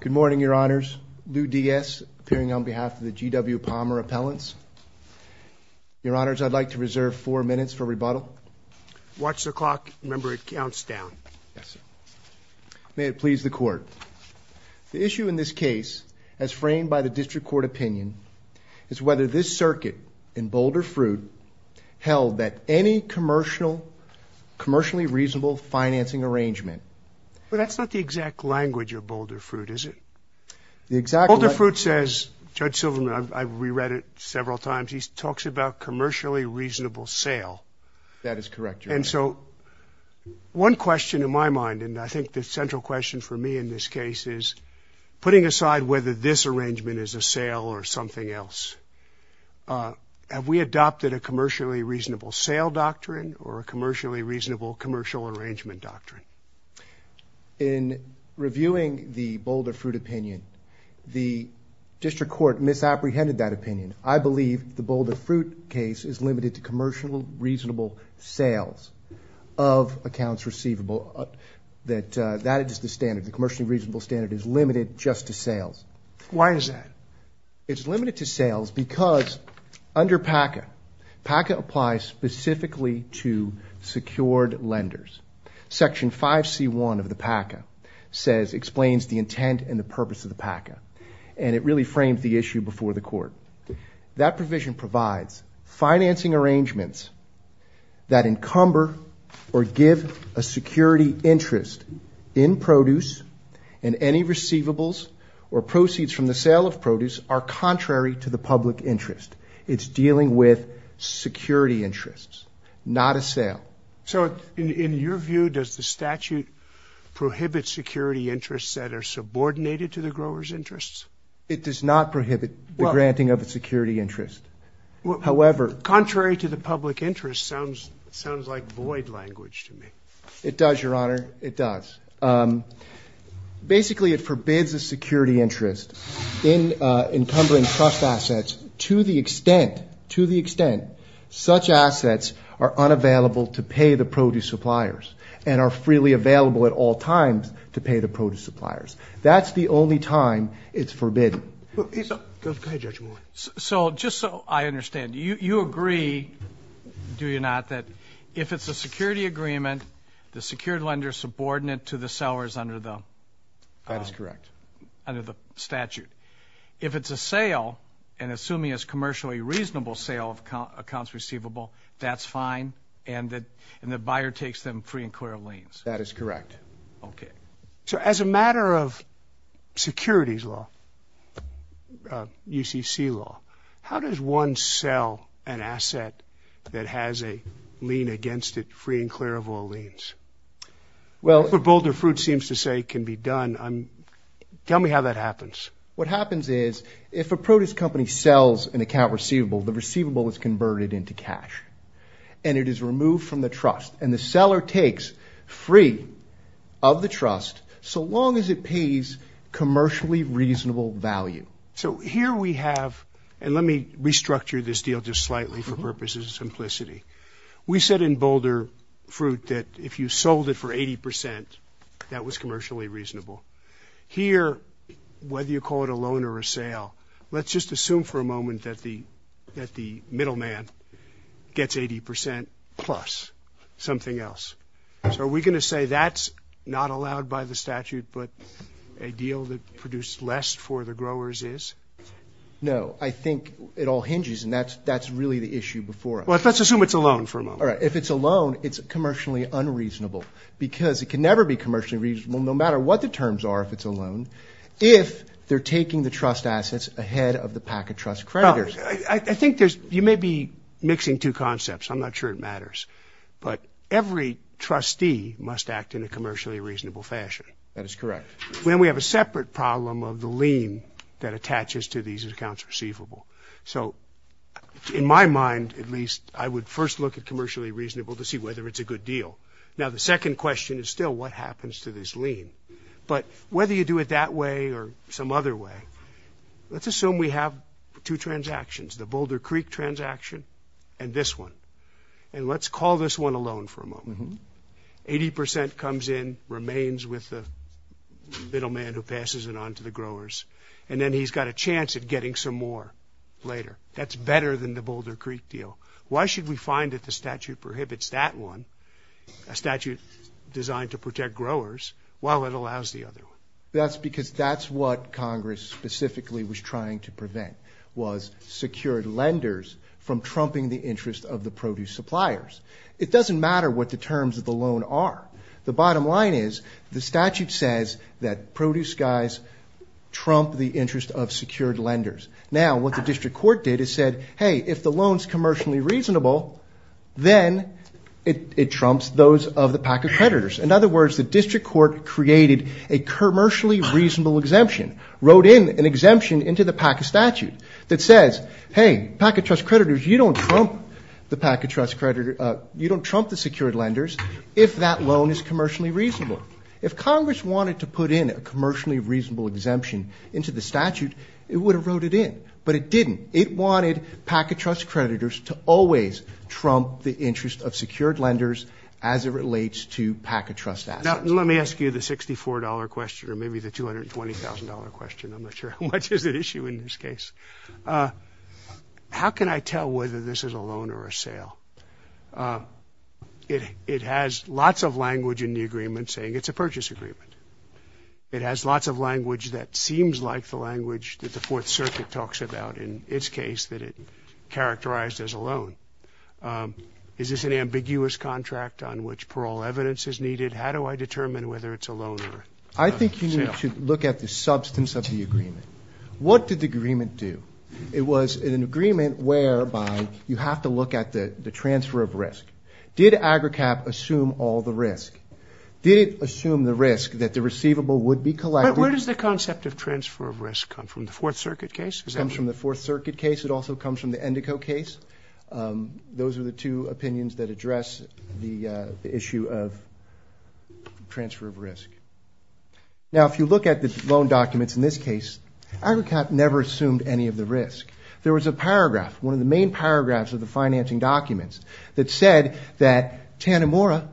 Good morning, Your Honors. Lou Diaz appearing on behalf of the G.W. Palmer Appellants. Your Honors, I'd like to reserve four minutes for rebuttal. Watch the clock. Remember, it counts down. May it please the Court. The issue in this case, as framed by the District Court opinion, is whether this circuit in Boulder Fruit held that any commercially reasonable financing arrangement? Well, that's not the exact language of Boulder Fruit, is it? The exact language... Boulder Fruit says, Judge Silverman, I've re-read it several times, he talks about commercially reasonable sale. That is correct, Your Honor. And so, one question in my mind, and I think the central question for me in this case is, putting aside whether this arrangement is a sale or something else, have we adopted a commercially reasonable sale doctrine or a commercially reasonable commercial arrangement doctrine? In reviewing the Boulder Fruit opinion, the District Court misapprehended that opinion. I believe the Boulder Fruit case is limited to commercial reasonable sales of accounts receivable. That is the standard. The commercially reasonable standard is limited just to sales. Why is that? It's limited to sales because under PACA, PACA applies specifically to secured lenders. Section 5c1 of the PACA says, explains the intent and the purpose of the PACA, and it really framed the issue before the court. That provision provides financing arrangements that encumber or give a security interest in produce and any receivables or proceeds from the sale of produce are contrary to the public interest. It's dealing with security interests, not a sale. So, in your view, does the statute prohibit security interests that are subordinated to the growers' interests? It does not prohibit the granting of a security interest. However... Contrary to the public interest sounds like void language to me. It does, Your Honor, it does. Basically, it forbids a security interest in encumbering trust assets to the extent, such assets are unavailable to pay the produce suppliers and are freely available at all times to pay the produce suppliers. That's the only time it's forbidden. So, just so I understand, you agree, do you not, that if it's a security agreement, the secured lender is subordinate to the sellers under the... That is correct. Under the statute. If it's a sale, and assuming it's a commercially reasonable sale of accounts receivable, that's fine, and the buyer takes them free and clear of liens? That is correct. Okay. So, as a matter of securities law, UCC law, how does one sell an asset that has a lien against it free and clear of all liens? Well... What Boulder Fruit seems to say can be done, tell me how that happens. What happens is, if a produce company sells an account receivable, the receivable is converted into cash, and it is removed from the trust, and the seller takes free of the trust so long as it pays commercially reasonable value. So, here we have, and let me restructure this deal just slightly for purposes of simplicity. We said in Boulder Fruit that if you sold it for 80%, that was commercially reasonable. Here, whether you call it a moment that the middleman gets 80% plus something else. So, are we going to say that's not allowed by the statute, but a deal that produced less for the growers is? No. I think it all hinges, and that's really the issue before us. Well, let's assume it's a loan for a moment. All right. If it's a loan, it's commercially unreasonable, because it can never be commercially reasonable, no matter what the terms are if it's a loan, if they're taking the trust assets ahead of the pack of trust creditors. I think there's, you may be mixing two concepts. I'm not sure it matters, but every trustee must act in a commercially reasonable fashion. That is correct. Then we have a separate problem of the lien that attaches to these accounts receivable. So, in my mind, at least, I would first look at commercially reasonable to see whether it's a good deal. Now, the second question is still what happens to this lien, but whether you do it that way or some other way. Let's assume we have two transactions, the Boulder Creek transaction and this one, and let's call this one a loan for a moment. 80% comes in, remains with the middleman who passes it on to the growers, and then he's got a chance at getting some more later. That's better than the Boulder Creek deal. Why should we find that the statute prohibits that one, a statute designed to specifically was trying to prevent was secured lenders from trumping the interest of the produce suppliers. It doesn't matter what the terms of the loan are. The bottom line is the statute says that produce guys trump the interest of secured lenders. Now, what the district court did is said, hey, if the loan is commercially reasonable, then it trumps those of the pack of creditors. In other words, the district court created a commercially reasonable exemption, wrote in an exemption into the PACA statute that says, hey, PACA trust creditors, you don't trump the PACA trust creditor, you don't trump the secured lenders if that loan is commercially reasonable. If Congress wanted to put in a commercially reasonable exemption into the statute, it would have wrote it in, but it didn't. It wanted PACA trust creditors to always trump the interest of secured lenders as it relates to PACA trust assets. Now, let me ask you the $64 question or maybe the $220,000 question. I'm not sure how much is at issue in this case. How can I tell whether this is a loan or a sale? It has lots of language in the agreement saying it's a purchase agreement. It has lots of language that seems like the language that the Fourth Circuit talks about in its case that it characterized as a loan. Is this an ambiguous contract on which parole evidence is needed? How do I determine whether it's a loan or a sale? I think you need to look at the substance of the agreement. What did the agreement do? It was an agreement whereby you have to look at the transfer of risk. Did AGRCAP assume all the risk? Did it assume the risk that the receivable would be collected? But where does the concept of transfer of risk come from? The Fourth Circuit case? It comes from the Fourth Circuit case. It also comes from the Endico case. Those are the two opinions that address the issue of transfer of risk. Now if you look at the loan documents in this case, AGRCAP never assumed any of the risk. There was a paragraph, one of the main paragraphs of the financing documents that said that Tanimura,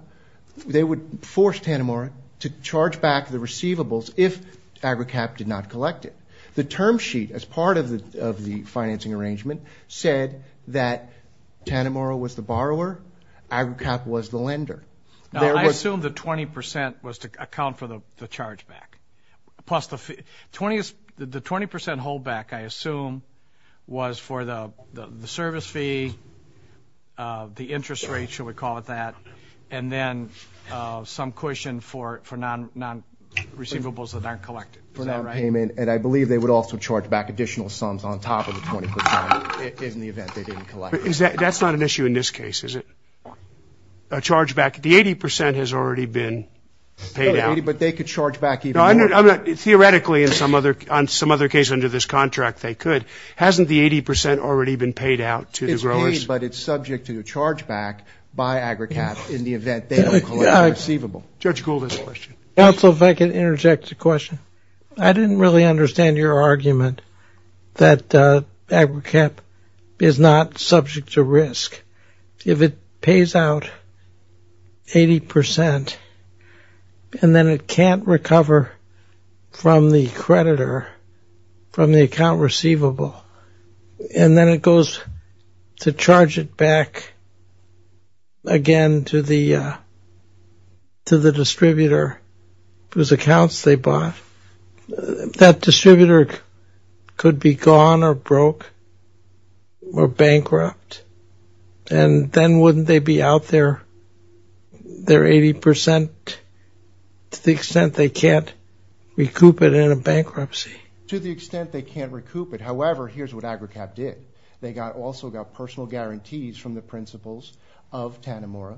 they would force Tanimura to charge back the receivables if AGRCAP did not collect it. The term sheet as part of the financing arrangement said that Tanimura was the borrower, AGRCAP was the lender. Now I assume the 20% was to account for the chargeback. Plus the 20% holdback I assume was for the service fee, the interest rate, shall we call it that, and then some cushion for non-receivables that aren't collected. For non-payment, and I believe they would also charge back additional sums on top of the 20% in the event they didn't collect it. But that's not an issue in this case, is it? A chargeback, the 80% has already been paid out. But they could charge back even more. Theoretically, in some other case under this contract they could. Hasn't the 80% already been paid out to the growers? It's paid, but it's subject to chargeback by AGRCAP in the event they don't collect the receivable. Judge Gould has a question. Counsel, if I could interject a question. I didn't really understand your argument that AGRCAP is not subject to risk. If it pays out 80% and then it can't recover from the creditor, from the account receivable, and then it goes to charge it back again to the distributor whose accounts they bought. That distributor could be gone or broke or bankrupt. And then wouldn't they be out their 80% to the extent they can't recoup it in a bankruptcy? To the extent they can't recoup it. However, here's what AGRCAP did. They also got personal guarantees from the principals of Tanimura.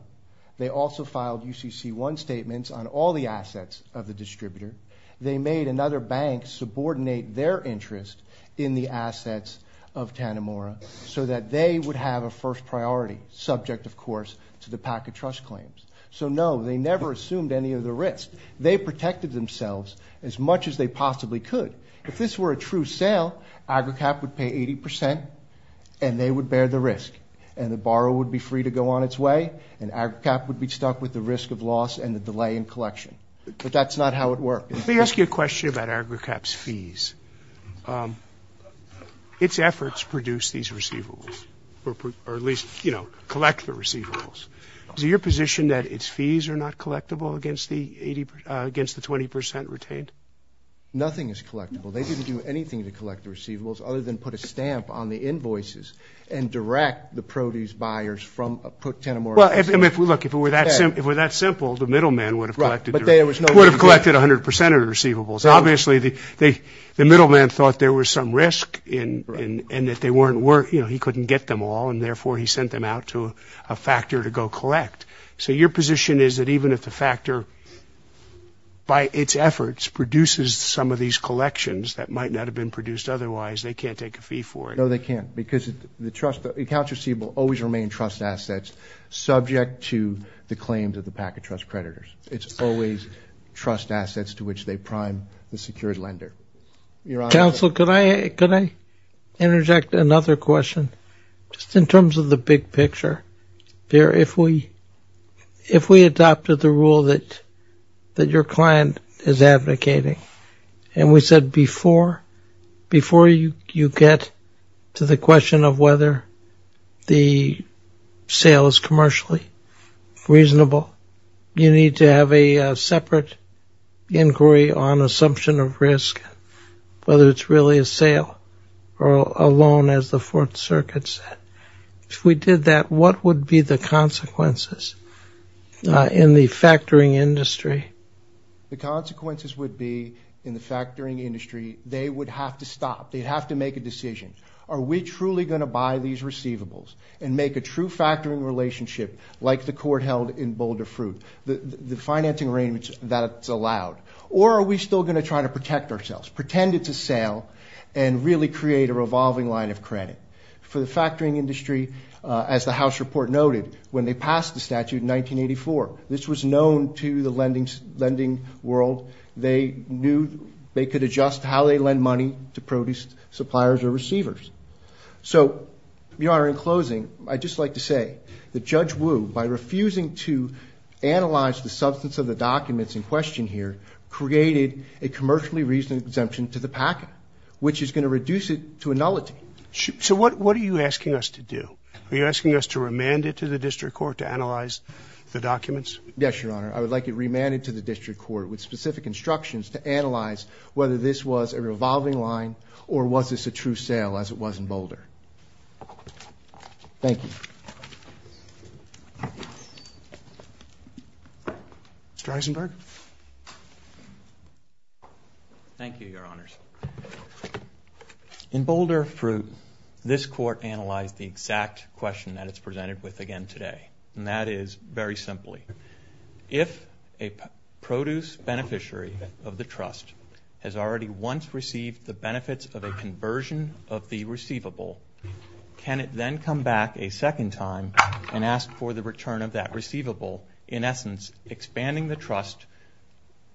They also filed UCC1 statements on all the assets of the distributor. They made another bank subordinate their interest in the assets of Tanimura so that they would have a first priority, subject, of course, to the PACA trust claims. So, no, they never assumed any of the risk. They protected themselves as much as they possibly could. If this were a true sale, AGRCAP would pay 80%, and they would bear the risk. And the borrower would be free to go on its way, and AGRCAP would be stuck with the risk of loss and the delay in collection. But that's not how it worked. Let me ask you a question about AGRCAP's fees. Its efforts produce these receivables, or at least, you know, collect the receivables. Is it your position that its fees are not collectible against the 20% retained? Nothing is collectible. They didn't do anything to collect the receivables other than put a stamp on the invoices and direct the produce buyers from Tanimura. Well, look, if it were that simple, the middleman would have collected 100% of the receivables. Obviously, the middleman thought there was some risk and that they weren't worth, you know, he couldn't get them all, and therefore, he sent them out to a factor to go collect. So your position is that even if the factor, by its efforts, produces some of these collections that might not have been produced otherwise, they can't take a fee for it. No, they can't, because the accounts receivable always remain trust assets. Subject to the claims of the Packet Trust creditors. It's always trust assets to which they prime the secured lender. Counsel, could I interject another question, just in terms of the big picture? If we adopted the rule that your client is advocating, and we said before you get to the question of whether the sale is commercially reasonable, you need to have a separate inquiry on assumption of risk, whether it's really a sale or a loan, as the Fourth Circuit said. If we did that, what would be the consequences in the factoring industry? The consequences would be, in the factoring industry, they would have to stop. They'd have to make a decision. Are we truly going to buy these receivables and make a true factoring relationship, like the court held in Boulder Fruit, the financing arrangements that's allowed, or are we still going to try to protect ourselves, pretend it's a sale, and really create a revolving line of credit? For the factoring industry, as the House report noted, when they passed the statute in 1984, this was known to the lending world. They knew they could adjust how they lend money to produce suppliers or receivers. So, Your Honor, in closing, I'd just like to say that Judge Wu, by refusing to analyze the substance of the documents in question here, created a commercially reasonable exemption to the packet, which is going to reduce it to a nullity. So what are you asking us to do? Are you asking us to remand it to the district court to analyze the documents? Yes, Your Honor. I would like it remanded to the district court with specific instructions to analyze whether this was a revolving line or was this a true sale, as it was in Boulder. Thank you. Mr. Eisenberg. Thank you, Your Honors. In Boulder Fruit, this court analyzed the exact question that it's presented with again today, and that is, very simply, if a produce beneficiary of the trust has already once received the benefits of a conversion of the receivable, can it then come back a second time and ask for the return of that receivable, in essence, expanding the trust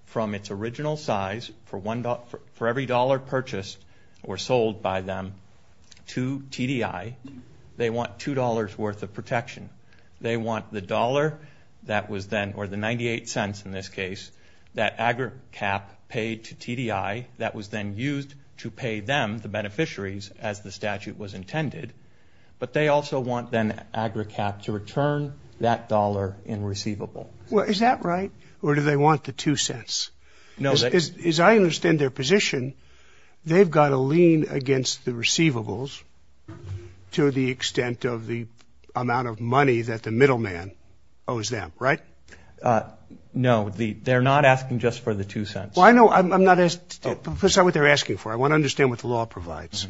from its original size for every dollar purchased or sold by them to TDI? They want $2 worth of protection. They want the dollar that was then, or the 98 cents in this case, that AGRICAP paid to TDI that was then used to pay them, the beneficiaries, as the statute was intended. But they also want then AGRICAP to return that dollar in receivable. Well, is that right, or do they want the two cents? As I understand their position, they've got to lean against the receivables to the extent of the amount of money that the middleman owes them, right? No. They're not asking just for the two cents. Well, I know. That's not what they're asking for. I want to understand what the law provides.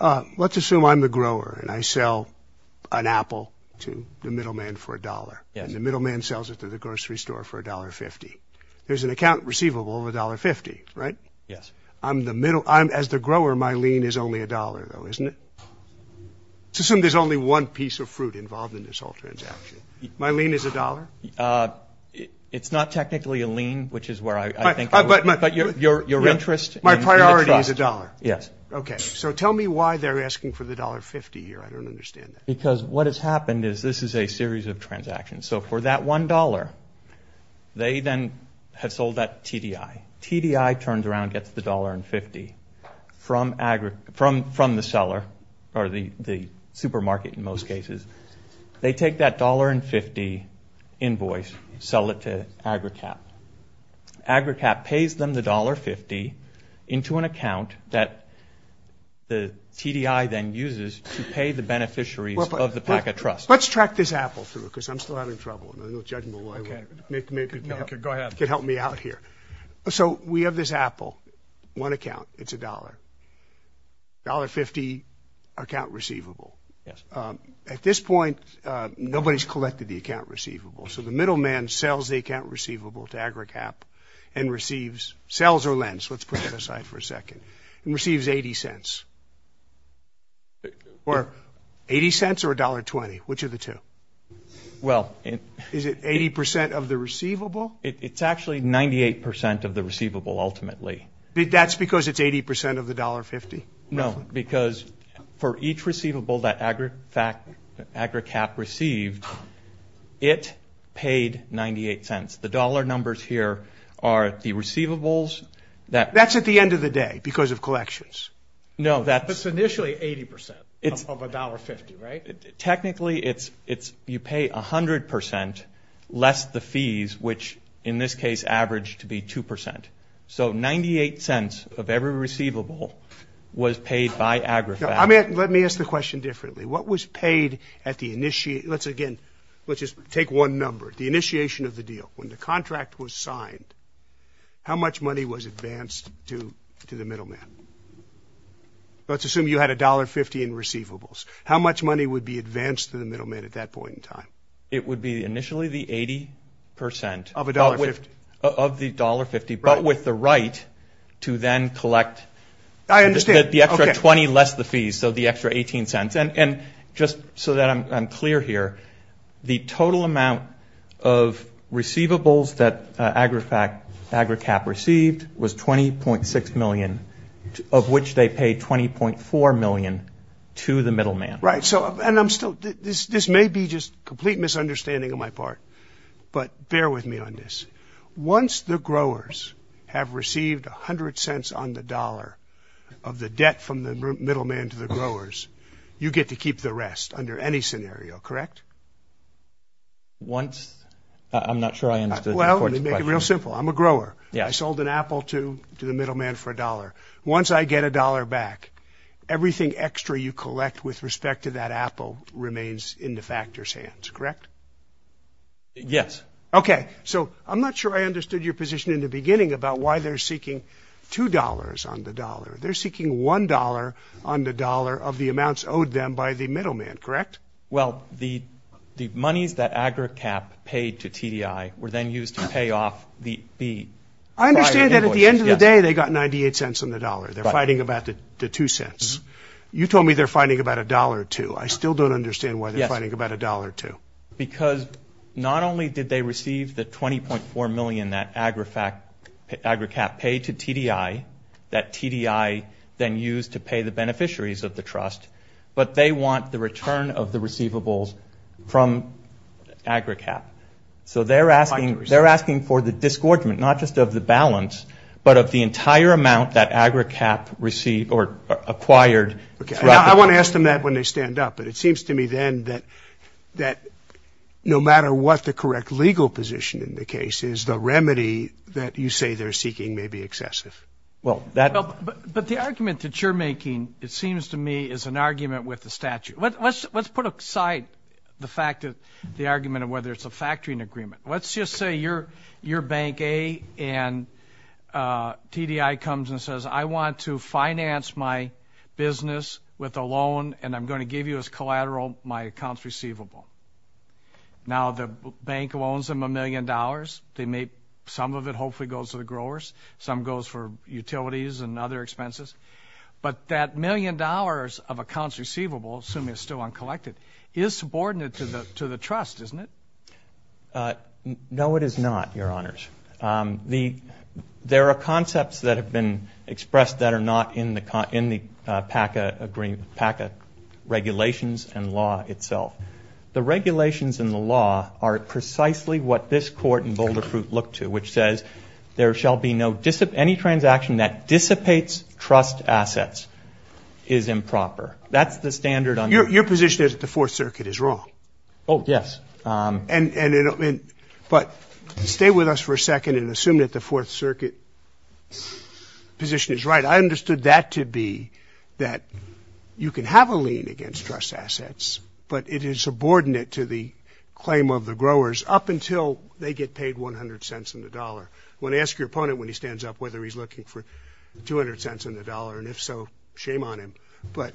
Let's assume I'm the grower and I sell an apple to the middleman for $1, and the middleman sells it to the grocery store for $1.50. There's an account receivable of $1.50, right? Yes. As the grower, my lien is only $1, though, isn't it? Let's assume there's only one piece of fruit involved in this whole transaction. My lien is $1? It's not technically a lien, which is where I think it is. But your interest in the trust. My priority is $1? Yes. Okay, so tell me why they're asking for the $1.50 here. I don't understand that. Because what has happened is this is a series of transactions. So for that $1, they then have sold that TDI. TDI turns around and gets the $1.50 from the seller, or the supermarket in most cases. They take that $1.50 invoice, sell it to AgriCap. AgriCap pays them the $1.50 into an account that the TDI then uses to pay the beneficiaries of the packet trust. Let's track this apple through, because I'm still having trouble. There's no judgment. Go ahead. You can help me out here. So we have this apple, one account. It's $1.00. $1.50, account receivable. Yes. At this point, nobody's collected the account receivable. So the middleman sells the account receivable to AgriCap and receives, sells or lends, let's put that aside for a second, and receives $0.80. Or $0.80 or $1.20? Which are the two? Is it 80% of the receivable? It's actually 98% of the receivable, ultimately. That's because it's 80% of the $1.50? No, because for each receivable that AgriCap received, it paid $0.98. The dollar numbers here are the receivables. That's at the end of the day, because of collections. No, that's... But it's initially 80% of $1.50, right? Technically, you pay 100% less the fees, which in this case averaged to be 2%. So $0.98 of every receivable was paid by AgriCap. Now, let me ask the question differently. What was paid at the... Let's again, let's just take one number, the initiation of the deal. When the contract was signed, how much money was advanced to the middleman? Let's assume you had $1.50 in receivables. How much money would be advanced to the middleman at that point in time? It would be initially the 80%. Of $1.50? Of the $1.50, but with the right to then collect the extra 20 less the fees, so the extra 18 cents. And just so that I'm clear here, the total amount of receivables that AgriCap received was $20.6 million, of which they paid $20.4 million to the middleman. Right. And so, and I'm still, this may be just complete misunderstanding on my part, but bear with me on this. Once the growers have received 100 cents on the dollar of the debt from the middleman to the growers, you get to keep the rest under any scenario, correct? Once, I'm not sure I understood the court's question. Well, let me make it real simple. I'm a grower. I sold an apple to the middleman for a dollar. Once I get a dollar back, everything extra you collect with respect to that apple remains in the factor's hands, correct? Yes. Okay. So, I'm not sure I understood your position in the beginning about why they're seeking $2 on the dollar. They're seeking $1 on the dollar of the amounts owed them by the middleman, correct? Well, the monies that AgriCap paid to TDI were then used to pay off the prior invoices. I understand that at the end of the day they got 98 cents on the dollar. They're fighting about the two cents. You told me they're fighting about a dollar or two. I still don't understand why they're fighting about a dollar or two. Because not only did they receive the 20.4 million that AgriCap paid to TDI, that TDI then used to pay the beneficiaries of the trust, but they want the return of the receivables from AgriCap. So, they're asking for the disgorgement, not just of the balance, but of the entire amount that AgriCap received or acquired. I want to ask them that when they stand up, but it seems to me then that no matter what the correct legal position in the case is, the remedy that you say they're seeking may be excessive. But the argument that you're making, it seems to me, is an argument with the statute. Let's put aside the argument of whether it's a factoring agreement. Let's just say you're bank A and TDI comes and says, I want to finance my business with a loan and I'm going to give you as collateral my accounts receivable. Now, the bank loans them a million dollars. Some of it hopefully goes to the growers. Some goes for utilities and other expenses. But that million dollars of accounts receivable, assuming it's still uncollected, is subordinate to the trust, isn't it? No, it is not, Your Honors. There are concepts that have been expressed that are not in the PACA regulations and law itself. The regulations and the law are precisely what this Court in Boulder Fruit looked to, which says there shall be no any transaction that dissipates trust assets is improper. That's the standard. Your position is that the Fourth Circuit is wrong. Oh, yes. But stay with us for a second and assume that the Fourth Circuit position is right. I understood that to be that you can have a lien against trust assets, but it is subordinate to the claim of the growers up until they get paid 100 cents on the dollar. I want to ask your opponent when he stands up whether he's looking for 200 cents on the dollar, and if so, shame on him. But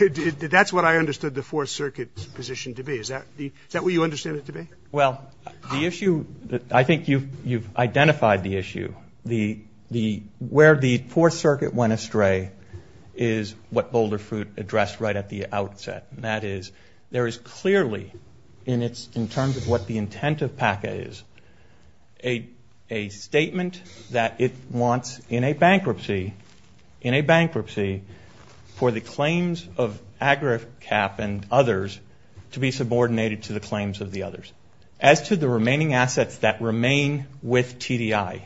that's what I understood the Fourth Circuit's position to be. Is that what you understand it to be? Well, the issue that I think you've identified the issue, where the Fourth Circuit went astray is what Boulder Fruit addressed right at the outset. And that is there is clearly, in terms of what the intent of PACA is, a statement that it wants in a bankruptcy for the claims of AgriCap and others to be subordinated to the claims of the others. As to the remaining assets that remain with TDI.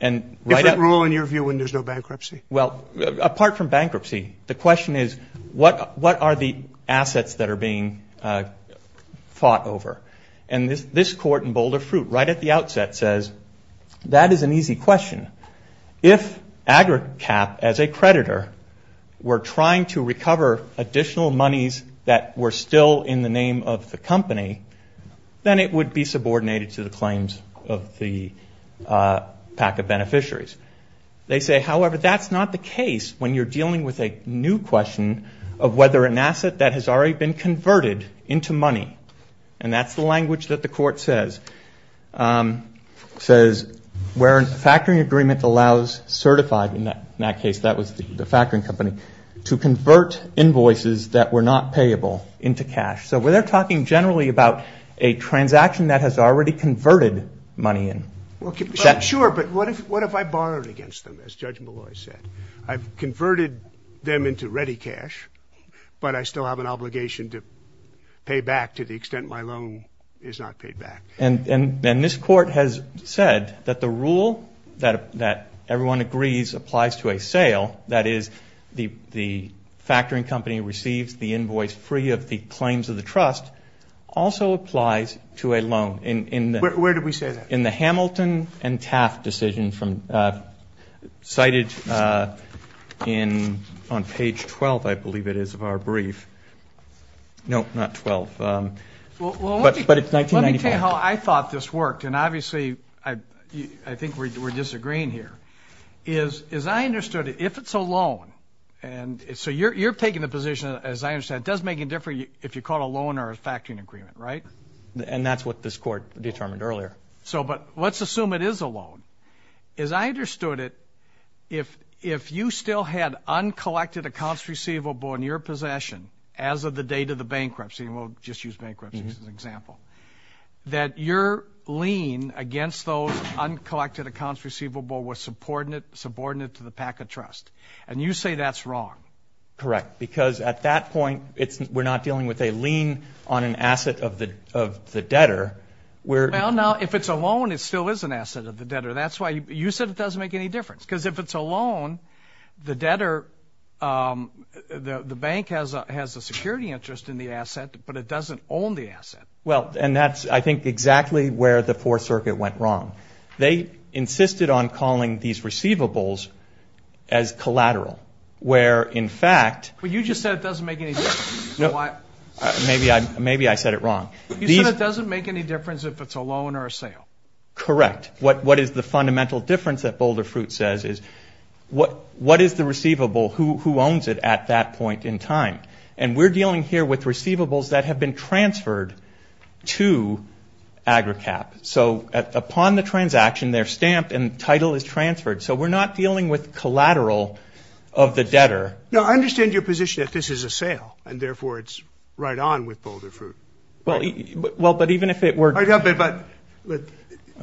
Different rule in your view when there's no bankruptcy? Well, apart from bankruptcy, the question is what are the assets that are being fought over? And this court in Boulder Fruit right at the outset says that is an easy question. If AgriCap as a creditor were trying to recover additional monies that were still in the name of the company, then it would be subordinated to the claims of the PACA beneficiaries. They say, however, that's not the case when you're dealing with a new question of whether an asset that has already been converted into money. And that's the language that the court says. It says where a factoring agreement allows certified, in that case that was the factoring company, to convert invoices that were not payable into cash. So they're talking generally about a transaction that has already converted money in. Sure, but what if I borrowed against them, as Judge Malloy said? I've converted them into ready cash, but I still have an obligation to pay back to the extent my loan is not paid back. And this court has said that the rule that everyone agrees applies to a sale, that is the factoring company receives the invoice free of the claims of the trust, also applies to a loan. Where did we say that? In the Hamilton and Taft decision cited on page 12, I believe it is, of our brief. No, not 12. But it's 1995. Let me tell you how I thought this worked, and obviously I think we're disagreeing here. As I understood it, if it's a loan, and so you're taking the position, as I understand, it does make a difference if you call it a loan or a factoring agreement, right? And that's what this court determined earlier. But let's assume it is a loan. As I understood it, if you still had uncollected accounts receivable in your possession as of the date of the bankruptcy, and we'll just use bankruptcy as an example, that your lien against those uncollected accounts receivable was subordinate to the PACA trust. And you say that's wrong. Correct. Because at that point, we're not dealing with a lien on an asset of the debtor. Well, now, if it's a loan, it still is an asset of the debtor. That's why you said it doesn't make any difference. Because if it's a loan, the debtor, the bank has a security interest in the asset, but it doesn't own the asset. Well, and that's, I think, exactly where the Fourth Circuit went wrong. They insisted on calling these receivables as collateral, where, in fact. But you just said it doesn't make any difference. Maybe I said it wrong. You said it doesn't make any difference if it's a loan or a sale. Correct. What is the fundamental difference that Boulder Fruit says is what is the receivable? Who owns it at that point in time? And we're dealing here with receivables that have been transferred to AGRICAP. So upon the transaction, they're stamped, and the title is transferred. So we're not dealing with collateral of the debtor. Now, I understand your position that this is a sale, and therefore it's right on with Boulder Fruit. Well, but even if it were. But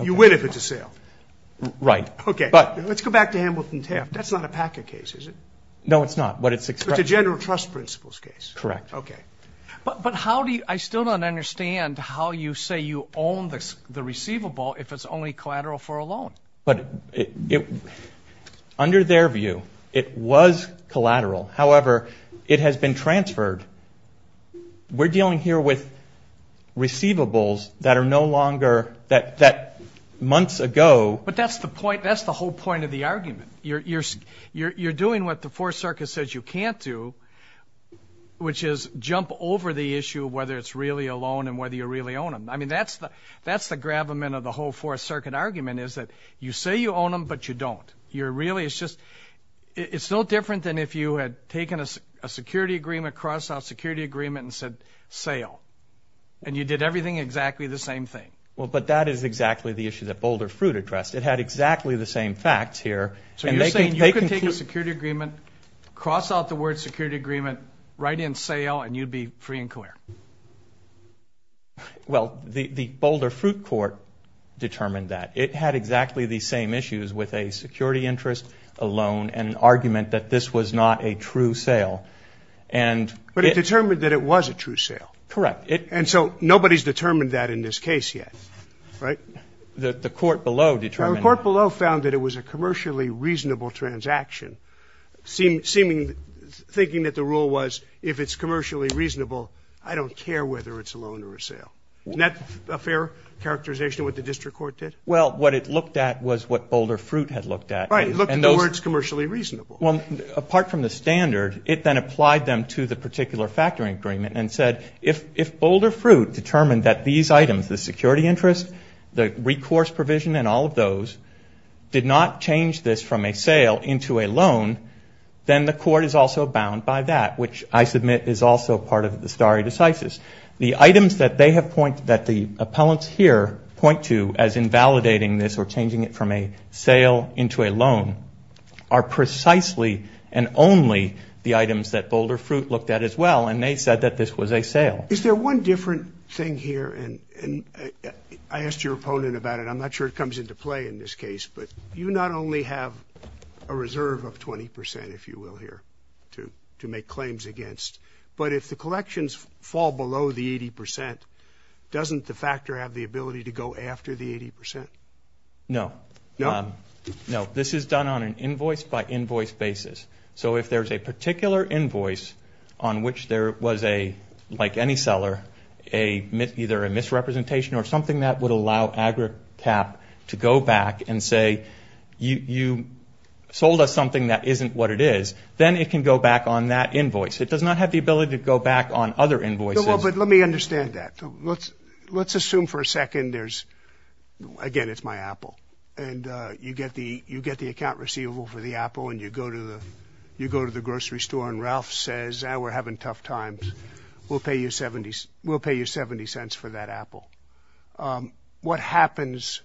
you win if it's a sale. Right. Okay. Let's go back to Hamilton Taft. That's not a PACA case, is it? No, it's not. But it's a general trust principles case. Correct. Okay. I still don't understand how you say you own the receivable if it's only collateral for a loan. But under their view, it was collateral. However, it has been transferred. We're dealing here with receivables that are no longer that months ago. But that's the point. That's the whole point of the argument. You're doing what the Fourth Circuit says you can't do, which is jump over the issue of whether it's really a loan and whether you really own them. I mean, that's the gravamen of the whole Fourth Circuit argument is that you say you own them, but you don't. It's no different than if you had taken a security agreement, crossed out a security agreement, and said sale. And you did everything exactly the same thing. Well, but that is exactly the issue that Boulder Fruit addressed. It had exactly the same facts here. So you're saying you could take a security agreement, cross out the word security agreement, write in sale, and you'd be free and clear. Well, the Boulder Fruit court determined that. It had exactly the same issues with a security interest, a loan, and an argument that this was not a true sale. But it determined that it was a true sale. Correct. And so nobody's determined that in this case yet, right? The court below determined that. The court below found that it was a commercially reasonable transaction, thinking that the rule was if it's commercially reasonable, I don't care whether it's a loan or a sale. Isn't that a fair characterization of what the district court did? Well, what it looked at was what Boulder Fruit had looked at. Right, it looked at the words commercially reasonable. Well, apart from the standard, it then applied them to the particular factory agreement and said, if Boulder Fruit determined that these items, the security interest, the recourse provision, and all of those did not change this from a sale into a loan, then the court is also bound by that, which I submit is also part of the stare decisis. The items that the appellants here point to as invalidating this or changing it from a sale into a loan are precisely and only the items that Boulder Fruit looked at as well, and they said that this was a sale. Is there one different thing here? And I asked your opponent about it. I'm not sure it comes into play in this case. But you not only have a reserve of 20 percent, if you will, here to make claims against, but if the collections fall below the 80 percent, doesn't the factor have the ability to go after the 80 percent? No. No? No. This is done on an invoice-by-invoice basis. So if there's a particular invoice on which there was a, like any seller, either a misrepresentation or something that would allow Agricap to go back and say, you sold us something that isn't what it is, then it can go back on that invoice. It does not have the ability to go back on other invoices. But let me understand that. Let's assume for a second there's, again, it's my apple, and you get the account receivable for the apple, and you go to the grocery store, and Ralph says, we're having tough times, we'll pay you 70 cents for that apple. What happens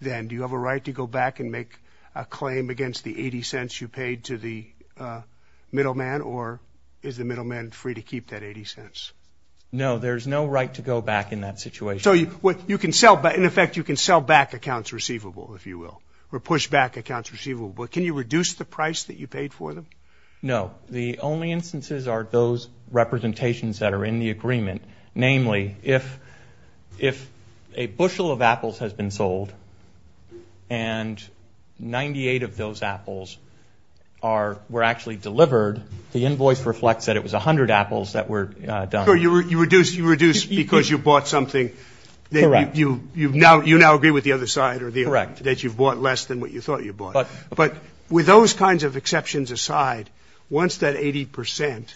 then? Do you have a right to go back and make a claim against the 80 cents you paid to the middleman, or is the middleman free to keep that 80 cents? No, there's no right to go back in that situation. So you can sell, in effect, you can sell back accounts receivable, if you will, or push back accounts receivable. Can you reduce the price that you paid for them? No. The only instances are those representations that are in the agreement. Namely, if a bushel of apples has been sold and 98 of those apples were actually delivered, the invoice reflects that it was 100 apples that were done. So you reduce because you bought something. Correct. You now agree with the other side that you've bought less than what you thought you bought. But with those kinds of exceptions aside, once that 80 percent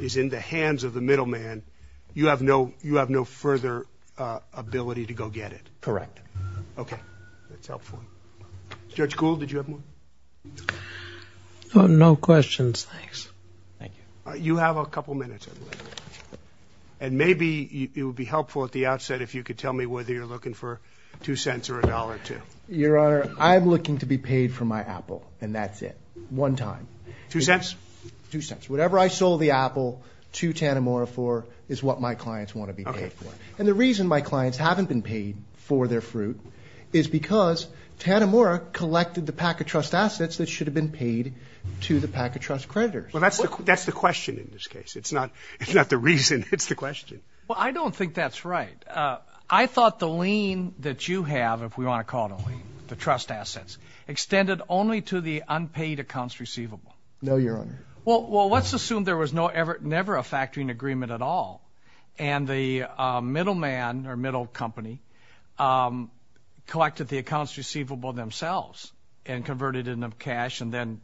is in the hands of the middleman, you have no further ability to go get it. Correct. Okay. That's helpful. Judge Gould, did you have more? No questions, thanks. Thank you. You have a couple minutes, I believe. And maybe it would be helpful at the outset if you could tell me whether you're looking for $0.02 or $1.02. Your Honor, I'm looking to be paid for my apple, and that's it. One time. $0.02? $0.02. Whatever I sold the apple to Tanimura for is what my clients want to be paid for. And the reason my clients haven't been paid for their fruit is because Tanimura collected the Packet Trust assets that should have been paid to the Packet Trust creditors. Well, that's the question in this case. It's not the reason, it's the question. Well, I don't think that's right. I thought the lien that you have, if we want to call it a lien, the trust assets, extended only to the unpaid accounts receivable. No, Your Honor. Well, let's assume there was never a factoring agreement at all, and the middleman or middle company collected the accounts receivable themselves and converted it into cash and then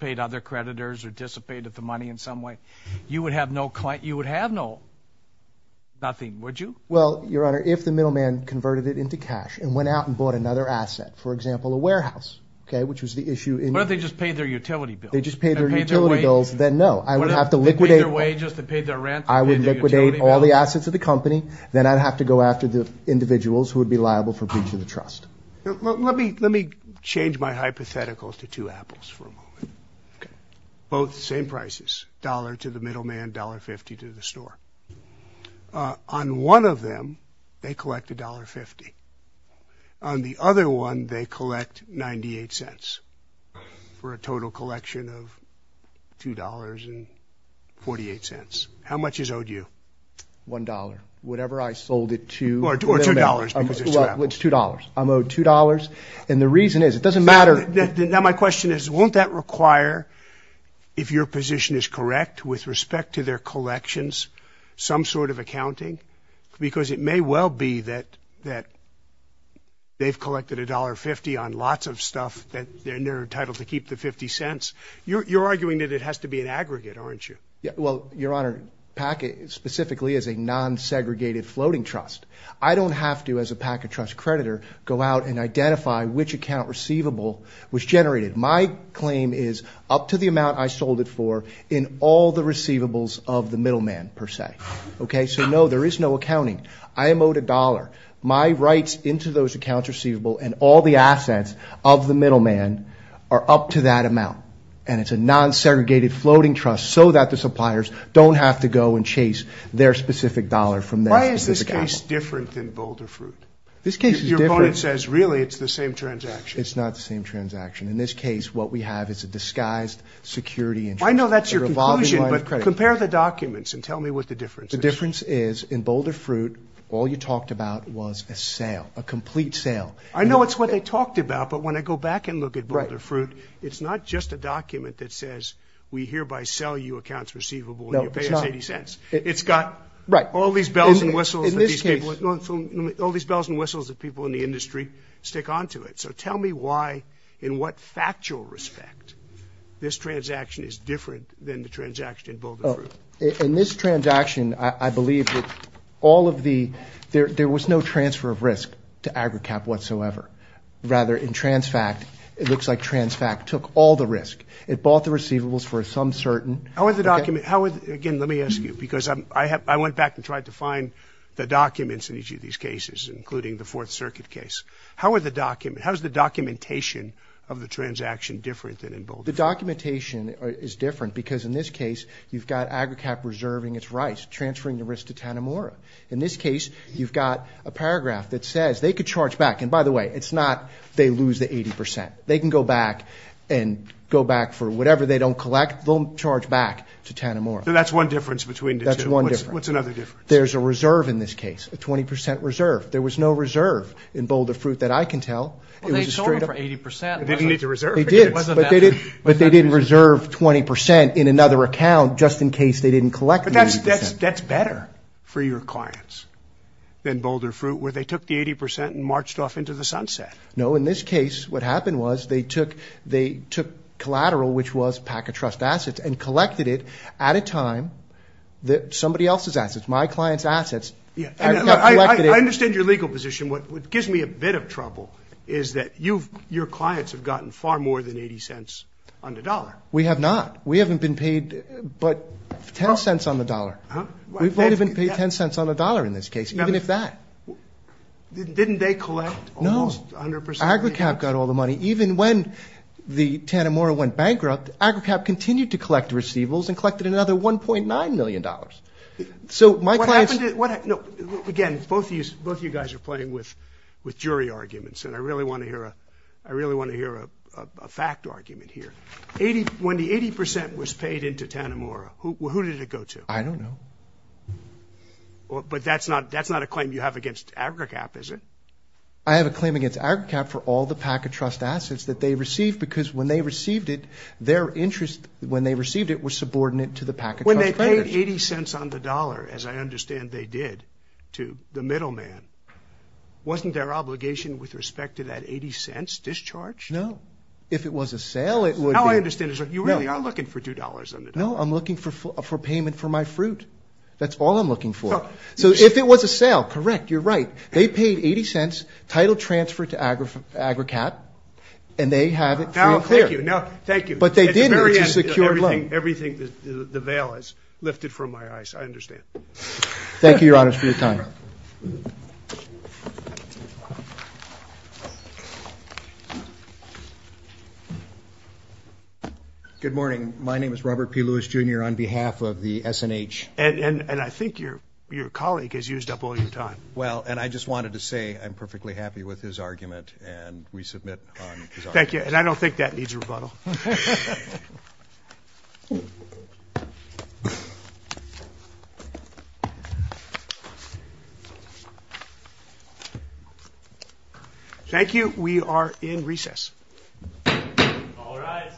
paid other creditors or dissipated the money in some way. You would have no nothing, would you? Well, Your Honor, if the middleman converted it into cash and went out and bought another asset, for example, a warehouse, okay, which was the issue. What if they just paid their utility bills? They just paid their utility bills, then no. I would have to liquidate all the assets of the company, then I'd have to go after the individuals who would be liable for breach of the trust. Let me change my hypothetical to two apples for a moment. Okay. Both the same prices, dollar to the middleman, dollar-fifty to the store. On one of them, they collect a dollar-fifty. On the other one, they collect 98 cents for a total collection of $2.48. How much is owed you? $1. Whatever I sold it to the middleman. Or $2 because it's two apples. It's $2. I'm owed $2. And the reason is, it doesn't matter. Now, my question is, won't that require, if your position is correct, with respect to their collections, some sort of accounting? Because it may well be that they've collected a dollar-fifty on lots of stuff and they're entitled to keep the 50 cents. You're arguing that it has to be an aggregate, aren't you? Well, Your Honor, PACA specifically is a non-segregated floating trust. I don't have to, as a PACA trust creditor, go out and identify which account receivable was generated. My claim is up to the amount I sold it for in all the receivables of the middleman, per se. Okay? So, no, there is no accounting. I am owed a dollar. My rights into those accounts receivable and all the assets of the middleman are up to that amount. And it's a non-segregated floating trust so that the suppliers don't have to go and chase their specific dollar from their specific account. Is this case different than Boulder Fruit? This case is different. Your opponent says, really, it's the same transaction. It's not the same transaction. In this case, what we have is a disguised security interest. I know that's your conclusion, but compare the documents and tell me what the difference is. The difference is, in Boulder Fruit, all you talked about was a sale, a complete sale. I know it's what they talked about, but when I go back and look at Boulder Fruit, it's not just a document that says, we hereby sell you accounts receivable and you pay us 80 cents. No, it's not. Right. All these bells and whistles that people in the industry stick onto it. So tell me why, in what factual respect, this transaction is different than the transaction in Boulder Fruit. In this transaction, I believe that all of the – there was no transfer of risk to AgriCap whatsoever. Rather, in TransFact, it looks like TransFact took all the risk. It bought the receivables for some certain – How is the document – again, let me ask you, because I went back and tried to find the documents in each of these cases, including the Fourth Circuit case. How is the documentation of the transaction different than in Boulder Fruit? The documentation is different because, in this case, you've got AgriCap reserving its rights, transferring the risk to Tanimura. In this case, you've got a paragraph that says they could charge back. And by the way, it's not they lose the 80 percent. They can go back and go back for whatever they don't collect. They'll charge back to Tanimura. So that's one difference between the two. That's one difference. What's another difference? There's a reserve in this case, a 20 percent reserve. There was no reserve in Boulder Fruit that I can tell. Well, they sold it for 80 percent. They didn't need to reserve it. They did. But they didn't reserve 20 percent in another account just in case they didn't collect the 80 percent. But that's better for your clients than Boulder Fruit, where they took the 80 percent and marched off into the sunset. No. In this case, what happened was they took collateral, which was Packer Trust assets, and collected it at a time that somebody else's assets, my client's assets, AgriCap collected it. I understand your legal position. What gives me a bit of trouble is that your clients have gotten far more than 80 cents on the dollar. We have not. We haven't been paid but 10 cents on the dollar. Huh? We've only been paid 10 cents on the dollar in this case, even if that. Didn't they collect? No. AgriCap got all the money. Even when the Tanimura went bankrupt, AgriCap continued to collect receivables and collected another $1.9 million. So my clients. Again, both of you guys are playing with jury arguments, and I really want to hear a fact argument here. When the 80 percent was paid into Tanimura, who did it go to? I don't know. But that's not a claim you have against AgriCap, is it? I have a claim against AgriCap for all the Packet Trust assets that they received because when they received it, their interest when they received it was subordinate to the Packet Trust. When they paid 80 cents on the dollar, as I understand they did, to the middleman, wasn't their obligation with respect to that 80 cents discharged? No. If it was a sale, it would be. Now I understand. You really are looking for $2 on the dollar. No, I'm looking for payment for my fruit. That's all I'm looking for. So if it was a sale, correct, you're right. They paid 80 cents, title transfer to AgriCap, and they have it free and clear. No, thank you. No, thank you. But they did use a secure loan. At the very end, everything the veil has lifted from my eyes, I understand. Thank you, Your Honors, for your time. Good morning. My name is Robert P. Lewis, Jr., on behalf of the S&H. And I think your colleague has used up all your time. Well, and I just wanted to say I'm perfectly happy with his argument, and we submit on his argument. Thank you. And I don't think that needs a rebuttal. Thank you. We are in recess. All rise.